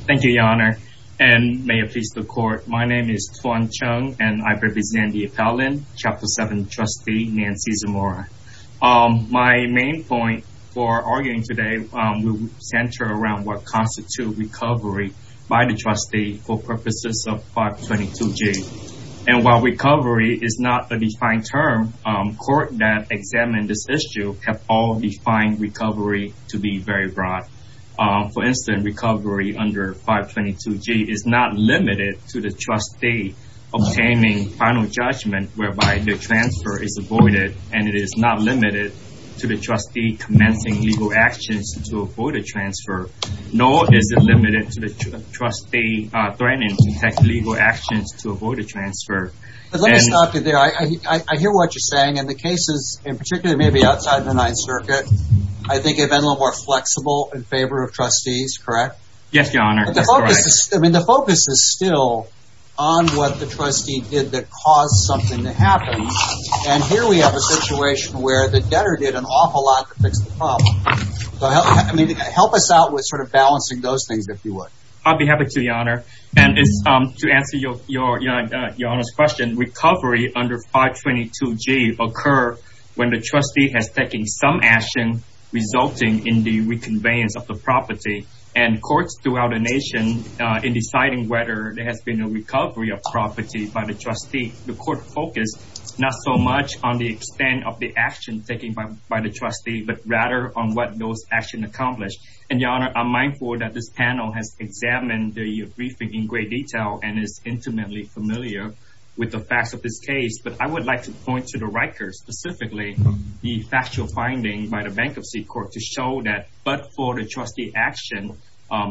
Thank you, Your Honor. And may it please the court. My name is Thuan Chung and I represent the appellant, Chapter 7, Trustee Nancy Zamora. My main point for arguing today will center around what constitutes recovery by the trustee for purposes of Part 22G. And while recovery is not a defined term, courts that examine this issue have all defined recovery to be very broad. For instance, recovery under Part 22G is not limited to the trustee obtaining final judgment whereby the transfer is avoided and it is not limited to the trustee commencing legal actions to avoid a transfer. Nor is it limited to the trustee threatening to take legal actions to avoid a transfer. But let me stop you there. I hear what you're saying and the cases in outside the Ninth Circuit. I think they've been a little more flexible in favor of trustees, correct? Yes, Your Honor. I mean, the focus is still on what the trustee did that caused something to happen. And here we have a situation where the debtor did an awful lot to fix the problem. I mean, help us out with sort of balancing those things, if you would. I'll be happy to, Your Honor. And to answer Your Honor's question, recovery under Part 22G occur when the trustee has taken some action resulting in the reconveyance of the property and courts throughout the nation in deciding whether there has been a recovery of property by the trustee. The court focused not so much on the extent of the action taken by the trustee, but rather on what those actions accomplished. And Your Honor, I'm mindful that this panel has examined the briefing in great detail and is intimately familiar with the facts of this case. But I would like to point to the Rikers, specifically the factual finding by the Bankruptcy Court to show that but for the trustee action,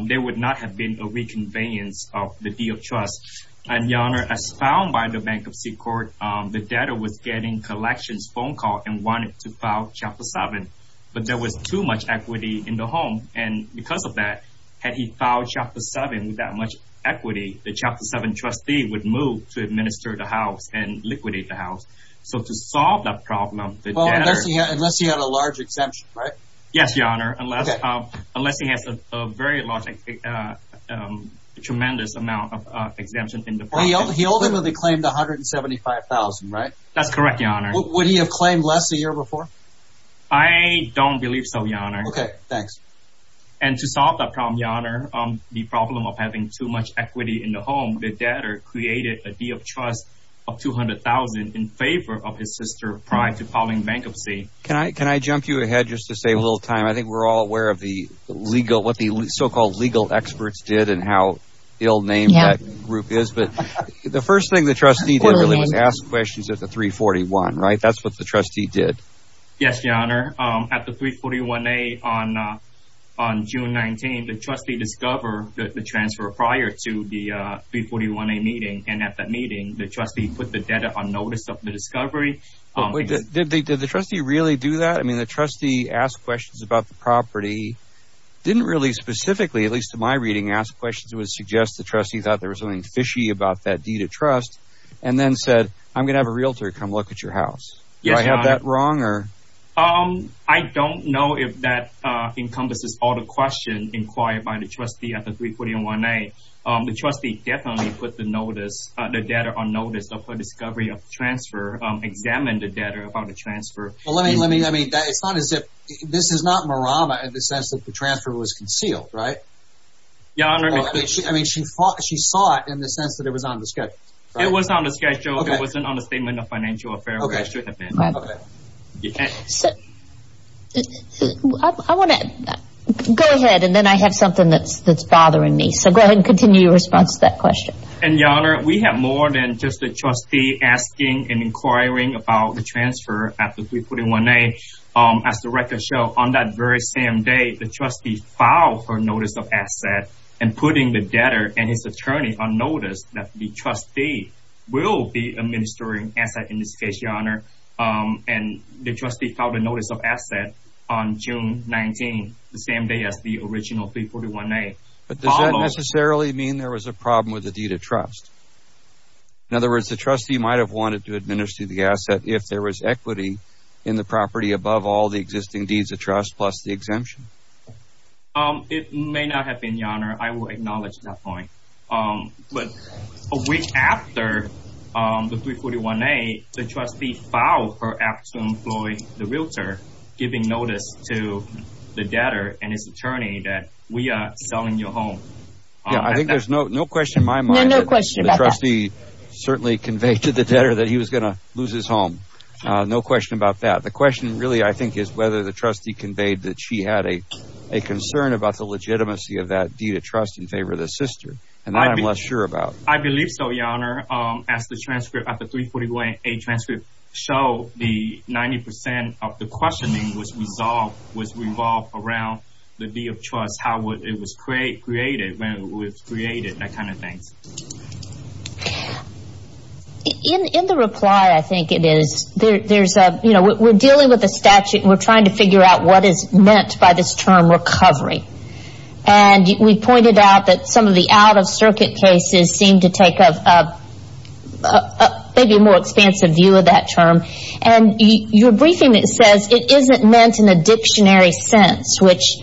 there would not have been a reconveyance of the deal of trust. And Your Honor, as found by the Bankruptcy Court, the debtor was getting collections phone call and wanted to file Chapter 7. But there was too much equity in the home. And because of that, had he filed Chapter 7 with that much equity, the Chapter 7 trustee would move to administer the house and liquidate the house. So to solve that problem, the debtor... Well, unless he had a large exemption, right? Yes, Your Honor, unless he has a very large, tremendous amount of exemption in the property. He ultimately claimed $175,000, right? That's correct, Your Honor. Would he have claimed less a year before? I don't believe so, Your Honor. Okay, thanks. And to solve that problem, Your Honor, the problem of having too much equity in the home, the debtor created a deal of trust of $200,000 in favor of his sister prior to filing bankruptcy. Can I jump you ahead just to save a little time? I think we're all aware of what the so-called legal experts did and how ill-named that group is. But the first thing the trustee did really was ask questions at the 341, right? That's what the trustee did. Yes, Your Honor. At the 341A on June 19, the trustee discovered the transfer prior to the 341A meeting. And at that meeting, the trustee put the debtor on notice of the discovery. Did the trustee really do that? I mean, the trustee asked questions about the property, didn't really specifically, at least in my reading, ask questions that would suggest the trustee thought there was something fishy about that deed of trust, and then said, I'm going to have a realtor come look at your house. Do I have that wrong? I don't know if that encompasses all the questions inquired by the trustee at the 341A. The trustee definitely put the notice, the debtor on notice of her discovery of the transfer, examined the debtor about the transfer. Well, let me, let me, let me, it's not as if, this is not Marama in the sense that the transfer was concealed, right? Your Honor, I mean, she thought, she saw it in the sense that it was on the schedule. It was on the schedule. It wasn't on the Statement of Financial Affairs. I want to go ahead and then I have something that's, that's bothering me. So go ahead and continue your response to that question. And Your Honor, we have more than just the trustee asking and inquiring about the transfer at the 341A. As the record shows, on that very same day, the trustee filed for notice of asset and putting the debtor and his attorney on notice that the will be administering asset in this case, Your Honor. And the trustee filed a notice of asset on June 19, the same day as the original 341A. But does that necessarily mean there was a problem with the deed of trust? In other words, the trustee might have wanted to administer the asset if there was equity in the property above all the existing deeds of trust plus the exemption. Um, it may not have been, Your Honor. I will acknowledge that point. Um, but a week after, um, the 341A, the trustee filed for absent employee, the realtor, giving notice to the debtor and his attorney that we are selling your home. Yeah, I think there's no, no question in my mind. The trustee certainly conveyed to the debtor that he was going to lose his home. No question about that. The question really, I think, is whether the trustee conveyed that she had a concern about the legitimacy of that deed of trust in favor of the sister and that I'm less sure about. I believe so, Your Honor. Um, as the transcript of the 341A transcript show the 90% of the questioning was resolved, was revolved around the deed of trust, how it was created, when it was created, that kind of thing. In the reply, I think it is, there's a, you know, we're dealing with a statute and we're trying to figure out what is meant by this term recovery. And we pointed out that some of the out-of-circuit cases seem to take a, a, maybe a more expansive view of that term. And your briefing, it says it isn't meant in a dictionary sense, which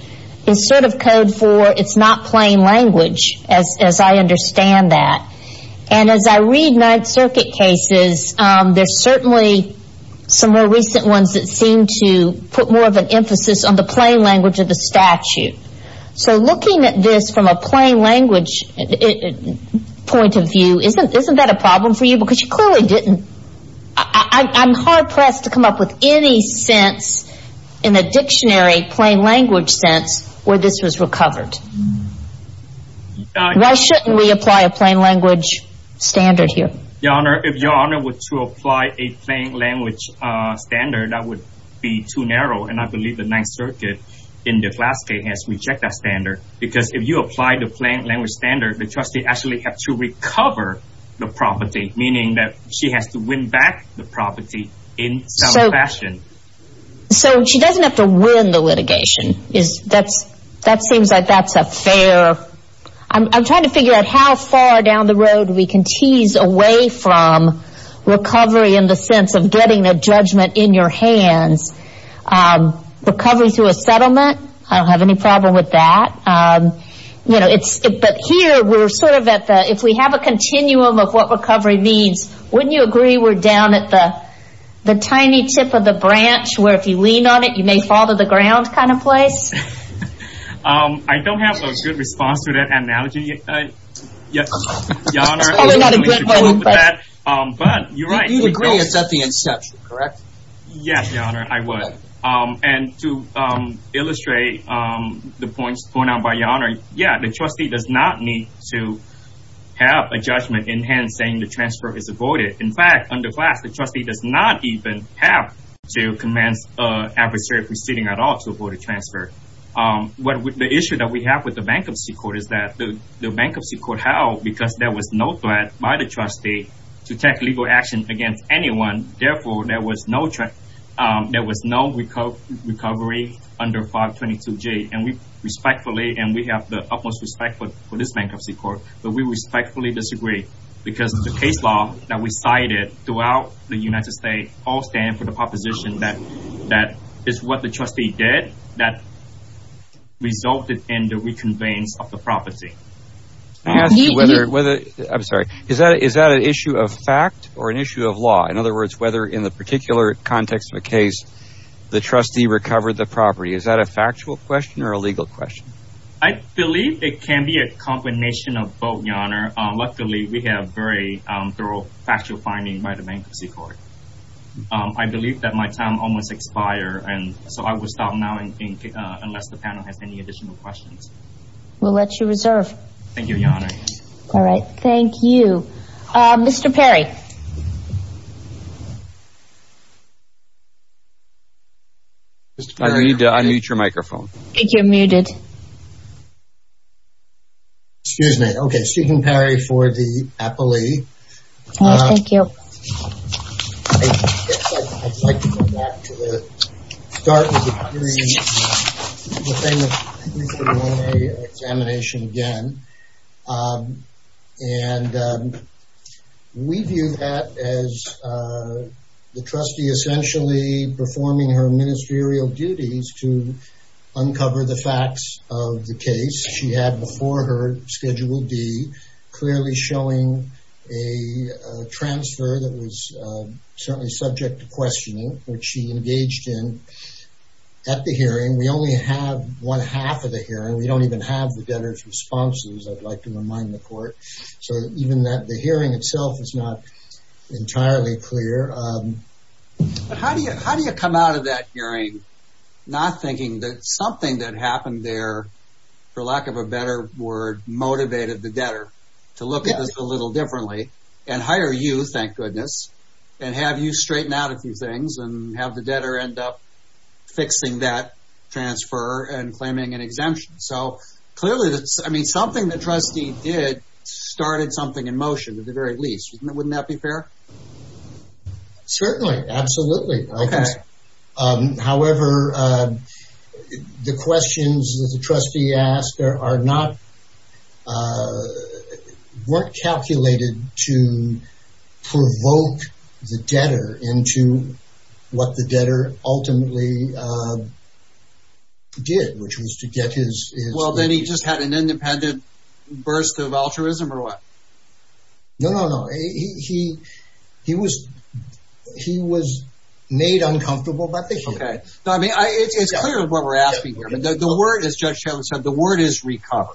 is sort of code for it's not plain language, as, as I understand that. And as I read out-of-circuit cases, there's certainly some more recent ones that seem to put more of an emphasis on the plain language of the statute. So looking at this from a plain language point of view, isn't, isn't that a problem for you? Because you clearly didn't, I, I, I'm hard pressed to come up with any sense in a dictionary plain language sense where this was recovered. Why shouldn't we apply a plain language standard here? Your Honor, if your Honor were to apply a plain language standard, that would be too narrow. And I believe the Ninth Circuit in the last case has rejected that standard. Because if you apply the plain language standard, the trustee actually have to recover the property, meaning that she has to win back the property in some fashion. So she doesn't have to win the litigation. Is that's, that seems like that's a fair, I'm, I'm trying to figure out how far down the road we can tease away from recovery in the sense of getting a judgment in your hands. Recovery through a settlement, I don't have any problem with that. You know, it's, but here we're sort of at the, if we have a continuum of what recovery means, wouldn't you agree we're down at the, the tiny tip of the branch where if you lean on it, you may fall to the ground kind of place? I don't have a good response to that analogy, Your Honor. But you're right. You'd agree it's at the inception, correct? Yes, Your Honor, I would. And to illustrate the points pointed out by Your Honor, yeah, the trustee does not need to have a judgment in hand saying the transfer is avoided. In fact, under class, the trustee does not even have to commence adversary proceeding at all to avoid a transfer. The issue that we have with the bankruptcy court is that the bankruptcy court held because there was no threat by the trustee to take legal action against anyone. Therefore, there was no, there was no recovery under 522G. And we respectfully, and we have the utmost respect for this bankruptcy court, but we respectfully disagree because the case law that we cited throughout the United States all stand for the proposition that is what the trustee did that resulted in the reconveying of the property. I'm asking whether, whether, I'm sorry, is that, is that an issue of fact or an issue of law? In other words, whether in the particular context of a case, the trustee recovered the property, is that a factual question or a legal question? I believe it can be a combination of both, Your Honor. Luckily, we have very thorough factual finding by the bankruptcy court. Um, I believe that my time almost expire and so I will stop now and think, uh, unless the panel has any additional questions. We'll let you reserve. Thank you, Your Honor. All right. Thank you. Uh, Mr. Perry. I need to unmute your microphone. I think you're muted. Excuse me. Okay. Steven Perry for the appellee. Yes, thank you. I'd like to go back to the start of the hearing, the thing with the examination again. Um, and, um, we view that as, uh, the trustee essentially performing her ministerial duties to uncover the facts of the case she had before her Schedule D, clearly showing a transfer that was, uh, certainly subject to questioning, which she engaged in at the hearing. We only have one half of the hearing. We don't even have the debtor's responses, I'd like to remind the court. So even that the hearing itself is not entirely clear. Um, but how do you, how do you come out of that not thinking that something that happened there, for lack of a better word, motivated the debtor to look at this a little differently and hire you, thank goodness, and have you straighten out a few things and have the debtor end up fixing that transfer and claiming an exemption. So clearly, I mean, something that trustee did started something in motion at the very least. Wouldn't that be fair? Certainly. Absolutely. Okay. Um, however, uh, the questions that the trustee asked are, are not, uh, weren't calculated to provoke the debtor into what the debtor ultimately, uh, did, which was to get his... Well, then he just had an independent burst of altruism or what? No, no, no. He, he, he was, he was made uncomfortable by the hearing. Okay. No, I mean, I, it's clear what we're asking here. The word, as Judge Chavis said, the word is recover.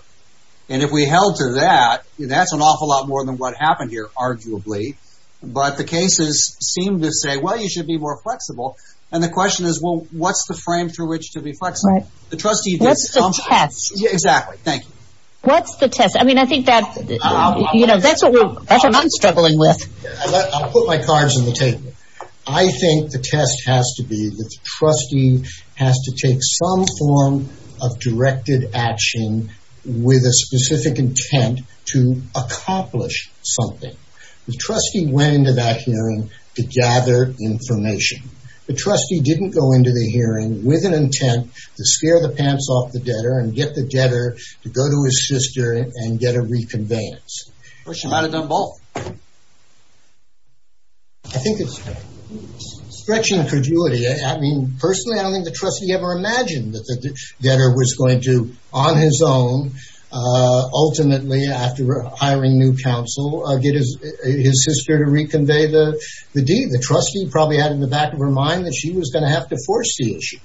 And if we held to that, that's an awful lot more than what happened here, arguably. But the cases seem to say, well, you should be more flexible. And the question is, well, what's the frame through which to be flexible? The trustee did something... What's the test? Exactly. Thank you. What's the test? I mean, I think that, you know, that's what we're, that's what I'm struggling with. I'll put my cards on the table. I think the test has to be that the trustee has to take some form of directed action with a specific intent to accomplish something. The trustee went into that hearing to gather information. The trustee didn't go into the hearing with an intent to scare the sister and get a reconveyance. Well, she might have done both. I think it's stretching perjury. I mean, personally, I don't think the trustee ever imagined that the getter was going to, on his own, ultimately, after hiring new counsel, get his, his sister to reconvey the deed. The trustee probably had in the back of her mind that she was going to have to force the issue.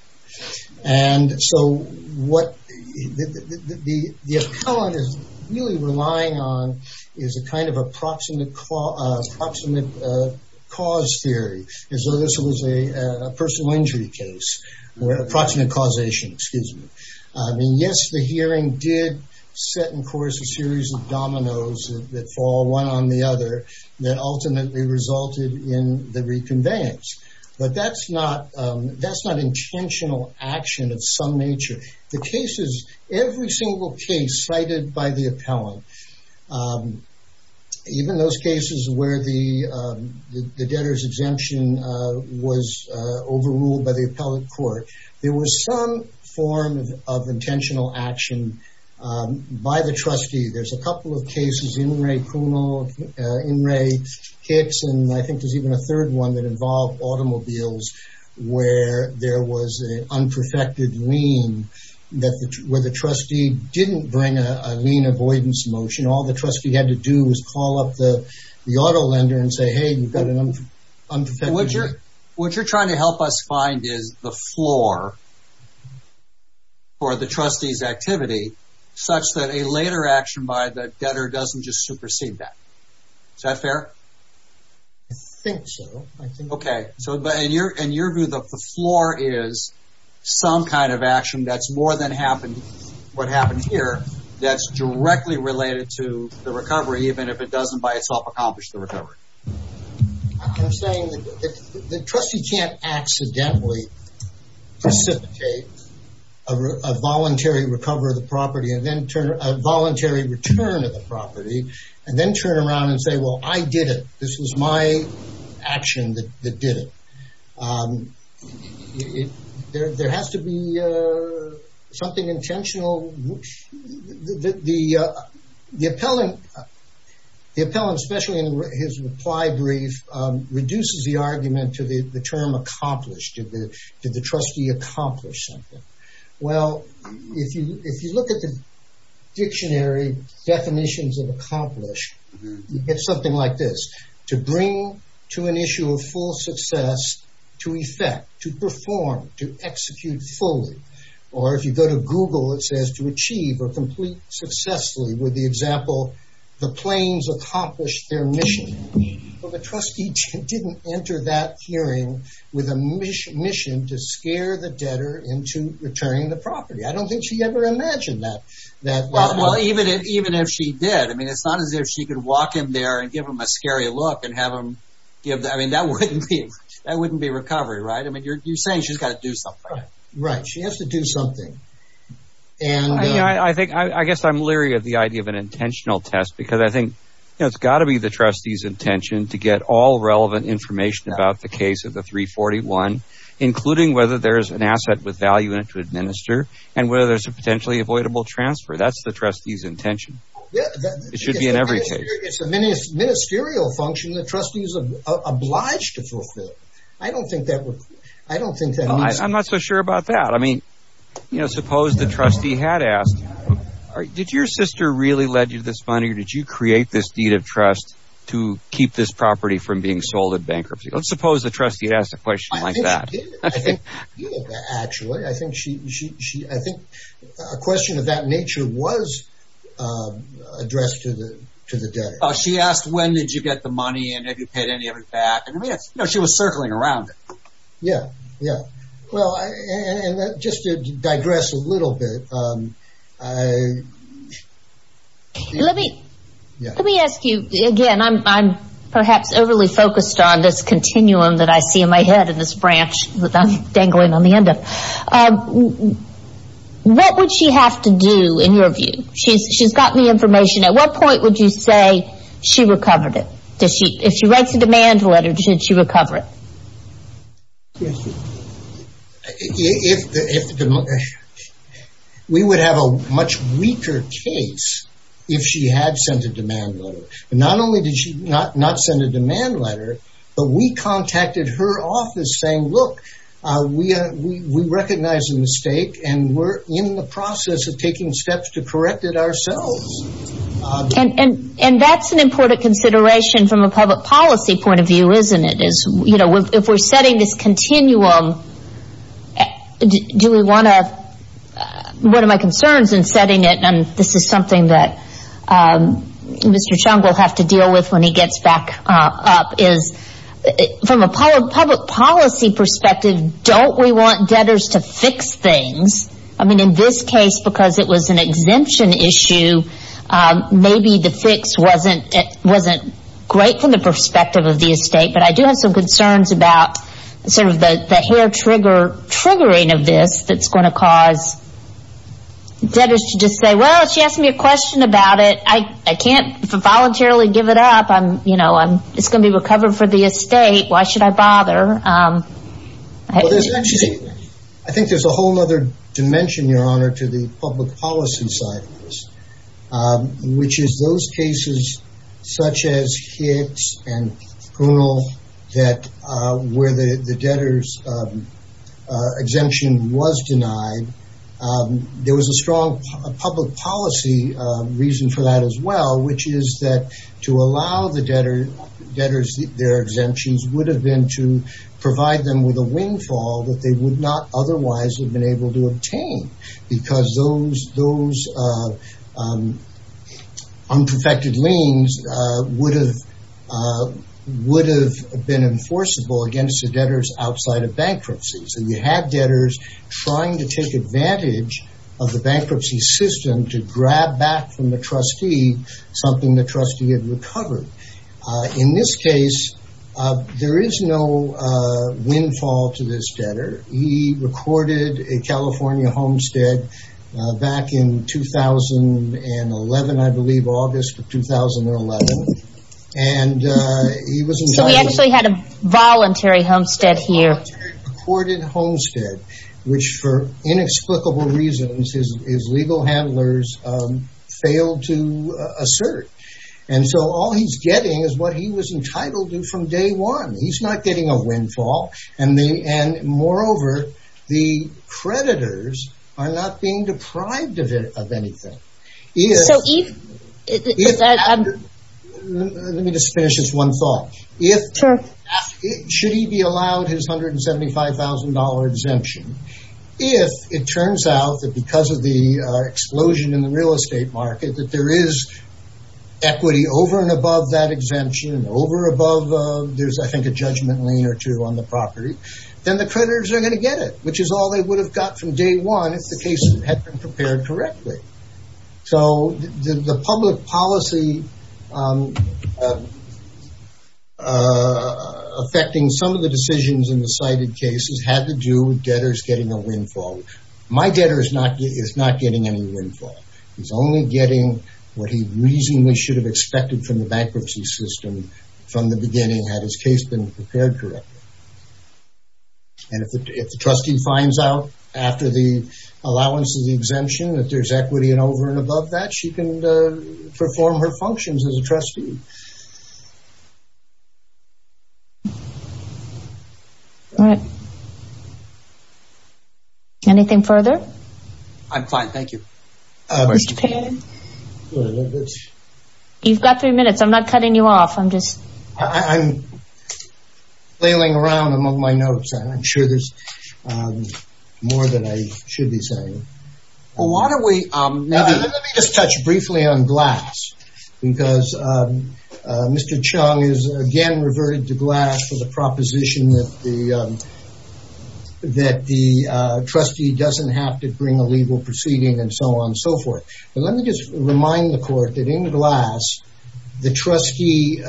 And so what the appellant is really relying on is a kind of approximate cause theory, as though this was a personal injury case, approximate causation, excuse me. I mean, yes, the hearing did set in course a series of dominoes that fall one on the that ultimately resulted in the reconveyance. But that's not intentional action of some nature. The cases, every single case cited by the appellant, even those cases where the debtor's exemption was overruled by the appellate court, there was some form of intentional action by the trustee. There's a couple of cases, In re Cuno, In re Hicks, and I think there's even a third one that involved automobiles, where there was an unperfected lien that, where the trustee didn't bring a lien avoidance motion. All the trustee had to do was call up the auto lender and say, hey, you've got an unperfected lien. What you're trying to help us find is the floor for the trustee's activity, such that a later action by the debtor doesn't just supersede that. Is that fair? I think so. Okay. So, and your view that the floor is some kind of action that's more than what happened here, that's directly related to the recovery, even if it doesn't by itself accomplish the recovery? I'm saying the trustee can't accidentally precipitate a voluntary recovery of the property and then turn, a voluntary return of the property and then turn around and say, well, I did it. This was my action that did it. There has to be something intentional. The appellant, especially in his reply brief, reduces the argument to the term accomplished. Did the trustee accomplish something? Well, if you look at the dictionary definitions of accomplish, it's something like this. To bring to an issue of full success, to effect, to perform, to execute fully, or if you go to Google, it says to achieve or complete successfully, with the example, the claims accomplished their mission. But the trustee didn't enter that hearing with a mission to scare the debtor into returning the property. I don't think she ever imagined that. Even if she did, I mean, it's not as if she could walk in there and give him a scary look and have I mean, that wouldn't be recovery, right? I mean, you're saying she's got to do something. Right. She has to do something. I guess I'm leery of the idea of an intentional test, because I think it's got to be the trustee's intention to get all relevant information about the case of the 341, including whether there's an asset with value in it to administer and whether there's a potentially avoidable transfer. That's the trustee's intention. It should be in every case. It's a ministerial function that trustees are obliged to fulfill. I don't think that would, I don't think that means... I'm not so sure about that. I mean, you know, suppose the trustee had asked, did your sister really led you to this money? Or did you create this deed of trust to keep this property from being sold in bankruptcy? Let's suppose the trustee asked a question like that. I think she did. I think she did, actually. I think a question of that nature was addressed to the debtor. She asked, when did you get the money? And have you paid any of it back? And I mean, you know, she was circling around it. Yeah. Yeah. Well, and just to digress a little bit. Let me ask you again. I'm perhaps overly focused on this continuum that I see in my head in this interview. What would she have to do, in your view? She's gotten the information. At what point would you say she recovered it? If she writes a demand letter, should she recover it? We would have a much weaker case if she had sent a demand letter. But not only did she not send a demand letter, but we contacted her office saying, look, we recognize the mistake and we're in the process of taking steps to correct it ourselves. And that's an important consideration from a public policy point of view, isn't it? If we're setting this continuum, one of my concerns in setting it, and this is something that Mr. Chung will have to deal with when he gets back up, is from a public policy perspective, don't we want debtors to fix things? I mean, in this case, because it was an exemption issue, maybe the fix wasn't great from the perspective of the estate. But I do have some concerns about sort of the hair triggering of this that's going to cause debtors to just say, well, she asked me a question about it. I can't voluntarily give it up. It's going to be recovered for the estate. Why should I bother? I think there's a whole other dimension, Your Honor, to the public policy side of this, which is those cases such as Hicks and Prunell, where the debtors' exemption was denied. There was a strong public policy reason for that as well, which is that to allow the debtors their exemptions would have been to provide them with a windfall that they would not otherwise have been able to obtain. Because those unperfected liens would have been enforceable against the debtors outside of bankruptcy. So you had debtors trying to take advantage of the bankruptcy system to grab back from the trustee something the trustee had recovered. In this case, there is no windfall to this debtor. He recorded a California homestead back in 2011, I believe, August of 2011. We actually had a voluntary homestead here. A recorded homestead, which for inexplicable reasons his legal handlers failed to assert. All he's getting is what he was entitled to from day one. He's not getting a windfall. And moreover, the creditors are not being deprived of anything. Let me just finish this one thought. Should he be allowed his $175,000 exemption if it turns out that because of the explosion in the real estate market that there is equity over and above that exemption and over above, there's I think a judgment lien or two on the property, then the creditors are going to get it, which is all they would have got from day one if the case had been prepared correctly. So the public policy affecting some of the decisions in the cited cases had to do with debtors getting a windfall. My debtor is not getting any windfall. He's only getting what he reasonably should have expected from the bankruptcy system from the beginning had his case been prepared correctly. And if the trustee finds out after the allowance of the exemption that there's equity and over and above that, she can perform her functions as a trustee. Anything further? I'm fine, thank you. Mr. Pan, you've got three minutes. I'm not cutting you off. I'm just flailing around among my notes. I'm sure there's more than I should be saying. Well, why don't we just touch briefly on glass because Mr. Chung is again reverted to glass for the proposition that the trustee doesn't have to bring a legal proceeding and so on. Let me just remind the court that in the glass, the trustee,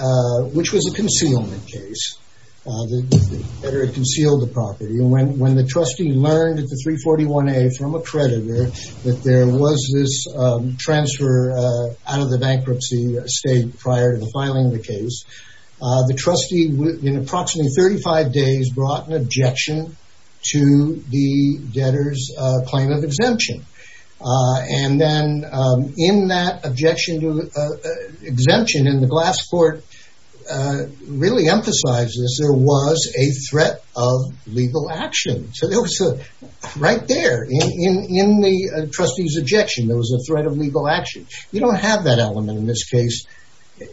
which was a concealment case, the debtor concealed the property. When the trustee learned at the 341A from a creditor that there was this transfer out of the bankruptcy state prior to filing the case, the trustee in approximately 35 days brought an objection to the debtor's claim of exemption. And then in that objection to exemption in the glass court really emphasizes there was a threat of legal action. So, right there in the trustee's objection, there was a threat of legal action. You don't have that element in this case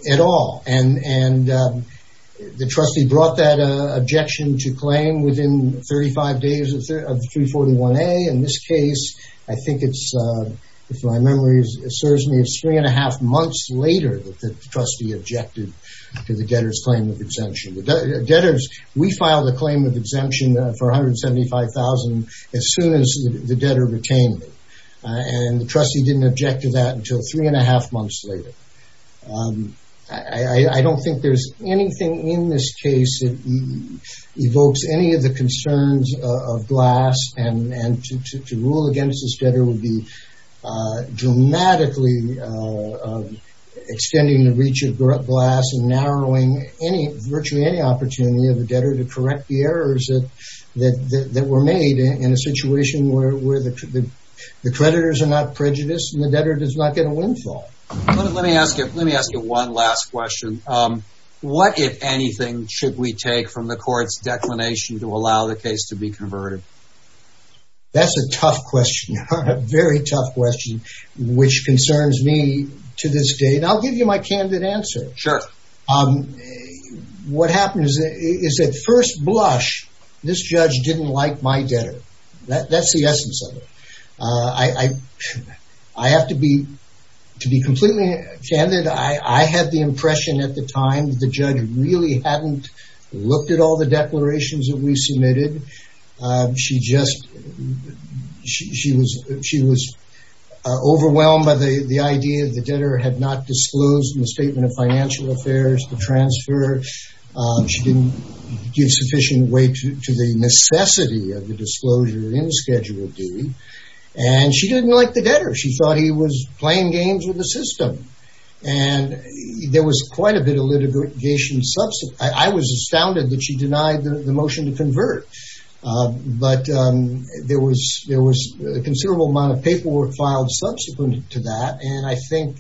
at all. And the trustee brought that objection to claim within 35 days of 341A. In this case, I think it's, if my memory serves me, it's three and a half months later that the trustee objected to the debtor's claim of exemption. The debtors, we filed a claim of exemption for $175,000 as soon as the debtor retained it. And the trustee didn't object to that until three and a half months later. I don't think there's anything in this case that evokes any of the concerns of glass and to rule against this debtor would be dramatically extending the reach of glass and narrowing any, virtually any opportunity of the debtor to correct the errors that were made in a situation where the creditors are not prejudiced and the debtor does not get a windfall. Let me ask you one last question. What, if anything, should we take from the court's declination to allow the case to be converted? That's a tough question, a very tough question, which concerns me to this day. And I'll give you my candid answer. Sure. What happens is at first blush, this judge didn't like my debtor. That's the essence of it. I have to be, to be completely candid, I had the impression at the time that the judge really hadn't looked at all the declarations that we submitted. She just, she was overwhelmed by the idea that the debtor had not disclosed in the Statement of Financial Affairs the transfer. She didn't give sufficient weight to the necessity of the disclosure in Schedule D. And she didn't like the debtor. She thought he was playing games with the system. And there was quite a bit of litigation. I was astounded that she denied the motion to convert. But there was a considerable amount of paperwork filed subsequent to that. And I think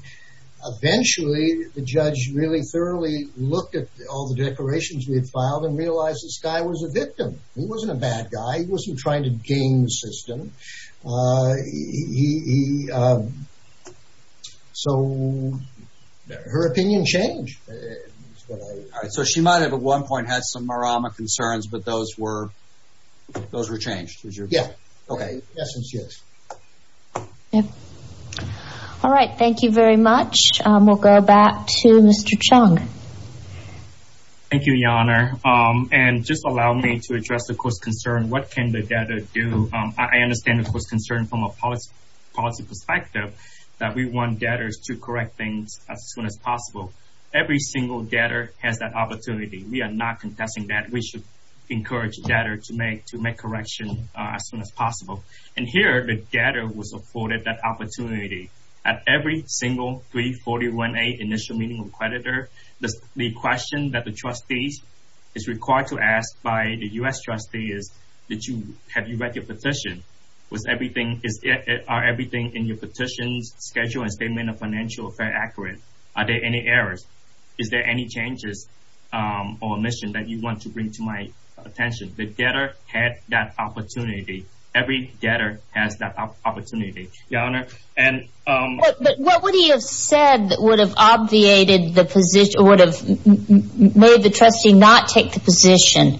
eventually the judge really thoroughly looked at all the declarations we had filed and realized this guy was a victim. He wasn't a bad guy. He wasn't trying to game the system. So her opinion changed. So she might have at one point had some marama concerns, but those were, those were changed. Yeah. Okay. Yep. All right. Thank you very much. We'll go back to Mr. Chung. Thank you, Your Honor. And just allow me to address the court's concern. What can the debtor do? I understand the court's concern from a policy perspective that we want debtors to correct things as soon as possible. Every single debtor has that opportunity. We are not contesting that we should encourage debtor to make, to make correction as soon as possible. And here the debtor was afforded that opportunity at every single 341A initial meeting of creditor. The question that the trustees is required to ask by the U.S. trustee is, did you, have you read your petition? Was everything, is it, are everything in your petition's schedule and statement of financial affair accurate? Are there any errors? Is there any changes or omissions that you want to bring to my attention? The debtor had that opportunity. Every debtor has that opportunity, Your Honor. But what would he have said that would have obviated the position, or would have made the trustee not take the position?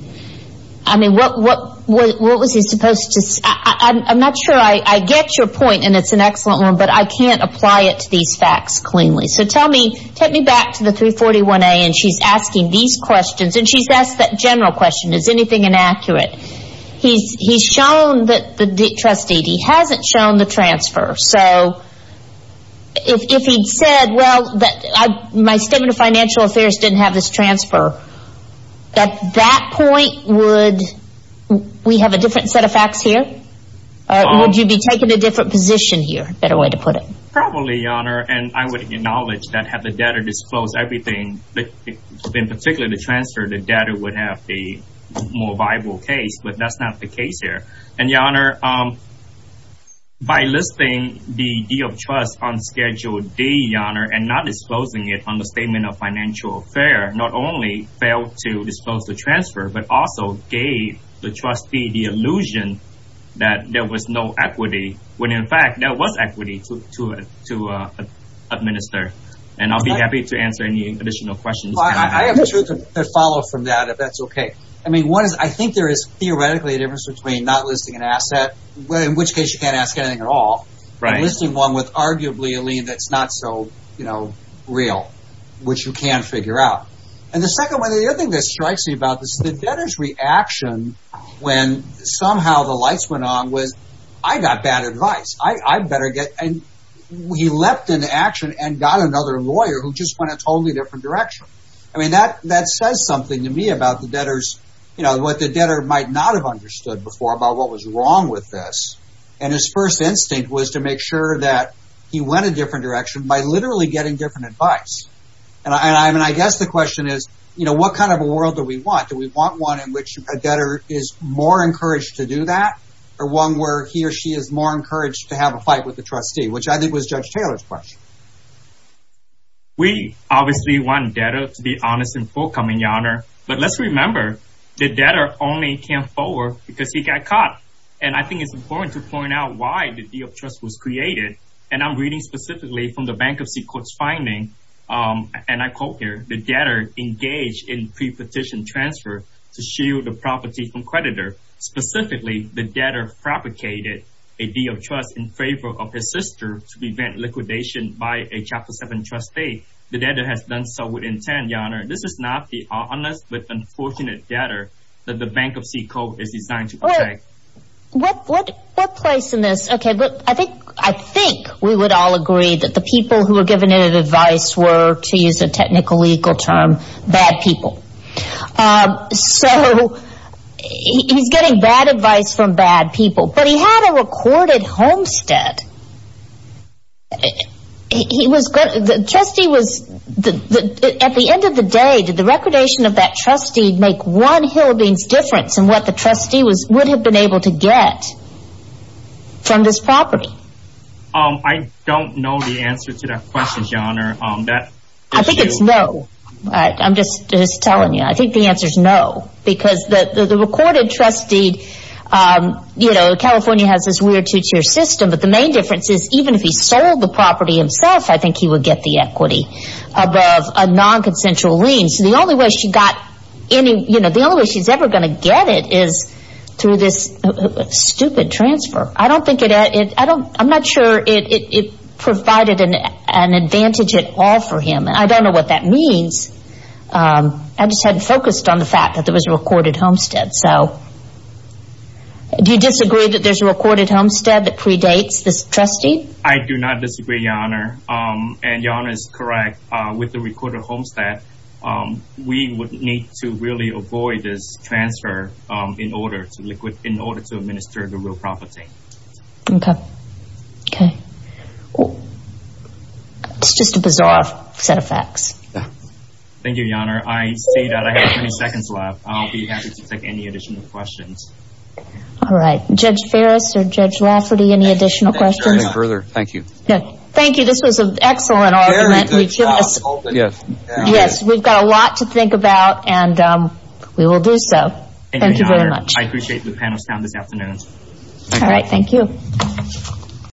I mean, what, what, what was he supposed to say? I'm not sure I, I get your point, and it's an excellent one, but I can't apply it to these facts cleanly. So tell me, take me back to the 341A, and she's asking these questions, and she's asked that general question, is anything inaccurate? He's, he's shown that the trustee, he hasn't shown the transfer, so if, if he'd said, well, that I, my statement of financial affairs didn't have this transfer, at that point, would, we have a different set of facts here? Would you be taking a different position here, better way to put it? Probably, Your Honor, and I would acknowledge that had the debtor disclosed everything, but in particular, the transfer, the debtor would have the more viable case, but that's not the case here. And Your Honor, by listing the deed of trust on Schedule D, Your Honor, and not disclosing it on the statement of financial affair, not only failed to disclose the transfer, but also gave the trustee the illusion that there was no equity, when in fact, there was equity to, to, to administer. And I'll be happy to answer any additional questions. I have two to follow from that, if that's okay. I mean, one is, I think there is theoretically a difference between not listing an asset, in which case you can't ask anything at all, and listing one with arguably a lien that's not so, you know, real, which you can't figure out. And the second one, the other thing that strikes me about this, the debtor's reaction, when somehow the lights went on was, I got bad advice, I better get, and he leapt into action and got another lawyer who just went a totally different direction. I mean, that that says something to me about the debtors, you know, what the debtor might not have understood before about what was wrong with this. And his first instinct was to make sure that he went a different direction by literally getting different advice. And I mean, I guess the question is, you know, what kind of a world do we want? Do we want one in which a debtor is more encouraged to do that? Or one where he or she is more encouraged to have a fight with the trustee, which I think was Judge Taylor's question. We obviously want debtor to be honest and forthcoming, your honor. But let's remember, the debtor only came forward because he got caught. And I think it's important to point out why the deal of trust was created. And I'm reading specifically from the Bankruptcy Court's finding. And I quote here, the debtor engaged in pre-petition transfer to shield the property from creditor. Specifically, the debtor propagated a deal of trust in favor of his sister to prevent liquidation by a Chapter 7 trustee. The debtor has done so with intent, your honor. This is not the honest but unfortunate debtor that the Bankruptcy Court is designed to protect. What place in this? Okay, look, I think we would all agree that the people who were given advice were, to use a technical legal term, bad people. So he's getting bad advice from bad people. But he had a recorded homestead. He was, the trustee was, at the end of the day, did the recordation of that trustee make one hillbilly's difference in what the trustee would have been able to get from this property? I don't know the answer to that question, your honor. I think it's no. I'm just telling you. I think the answer is no. Because the recorded trustee, you know, California has this weird two-tier system. But the main difference is even if he sold the property himself, I think he would get the equity above a nonconsensual lien. So the only way she got any, you know, the only way she's ever going to get it is through this stupid transfer. I don't think it, I'm not sure it provided an advantage at all for him. I don't know what that means. I just hadn't focused on the fact that there was a recorded homestead. So do you disagree that there's a recorded homestead that predates this trustee? I do not disagree, your honor. And your honor is correct. With the recorded homestead, we would need to really avoid this transfer in order to liquid, in order to administer the real property. Okay. Okay. It's just a bizarre set of facts. Thank you, your honor. I see that I have 20 seconds left. I'll be happy to take any additional questions. All right. Judge Ferris or Judge Lafferty, any additional questions? Further. Thank you. Thank you. This was an excellent argument. Yes, we've got a lot to think about and we will do so. Thank you very much. I appreciate the panel's time this afternoon. All right. Thank you.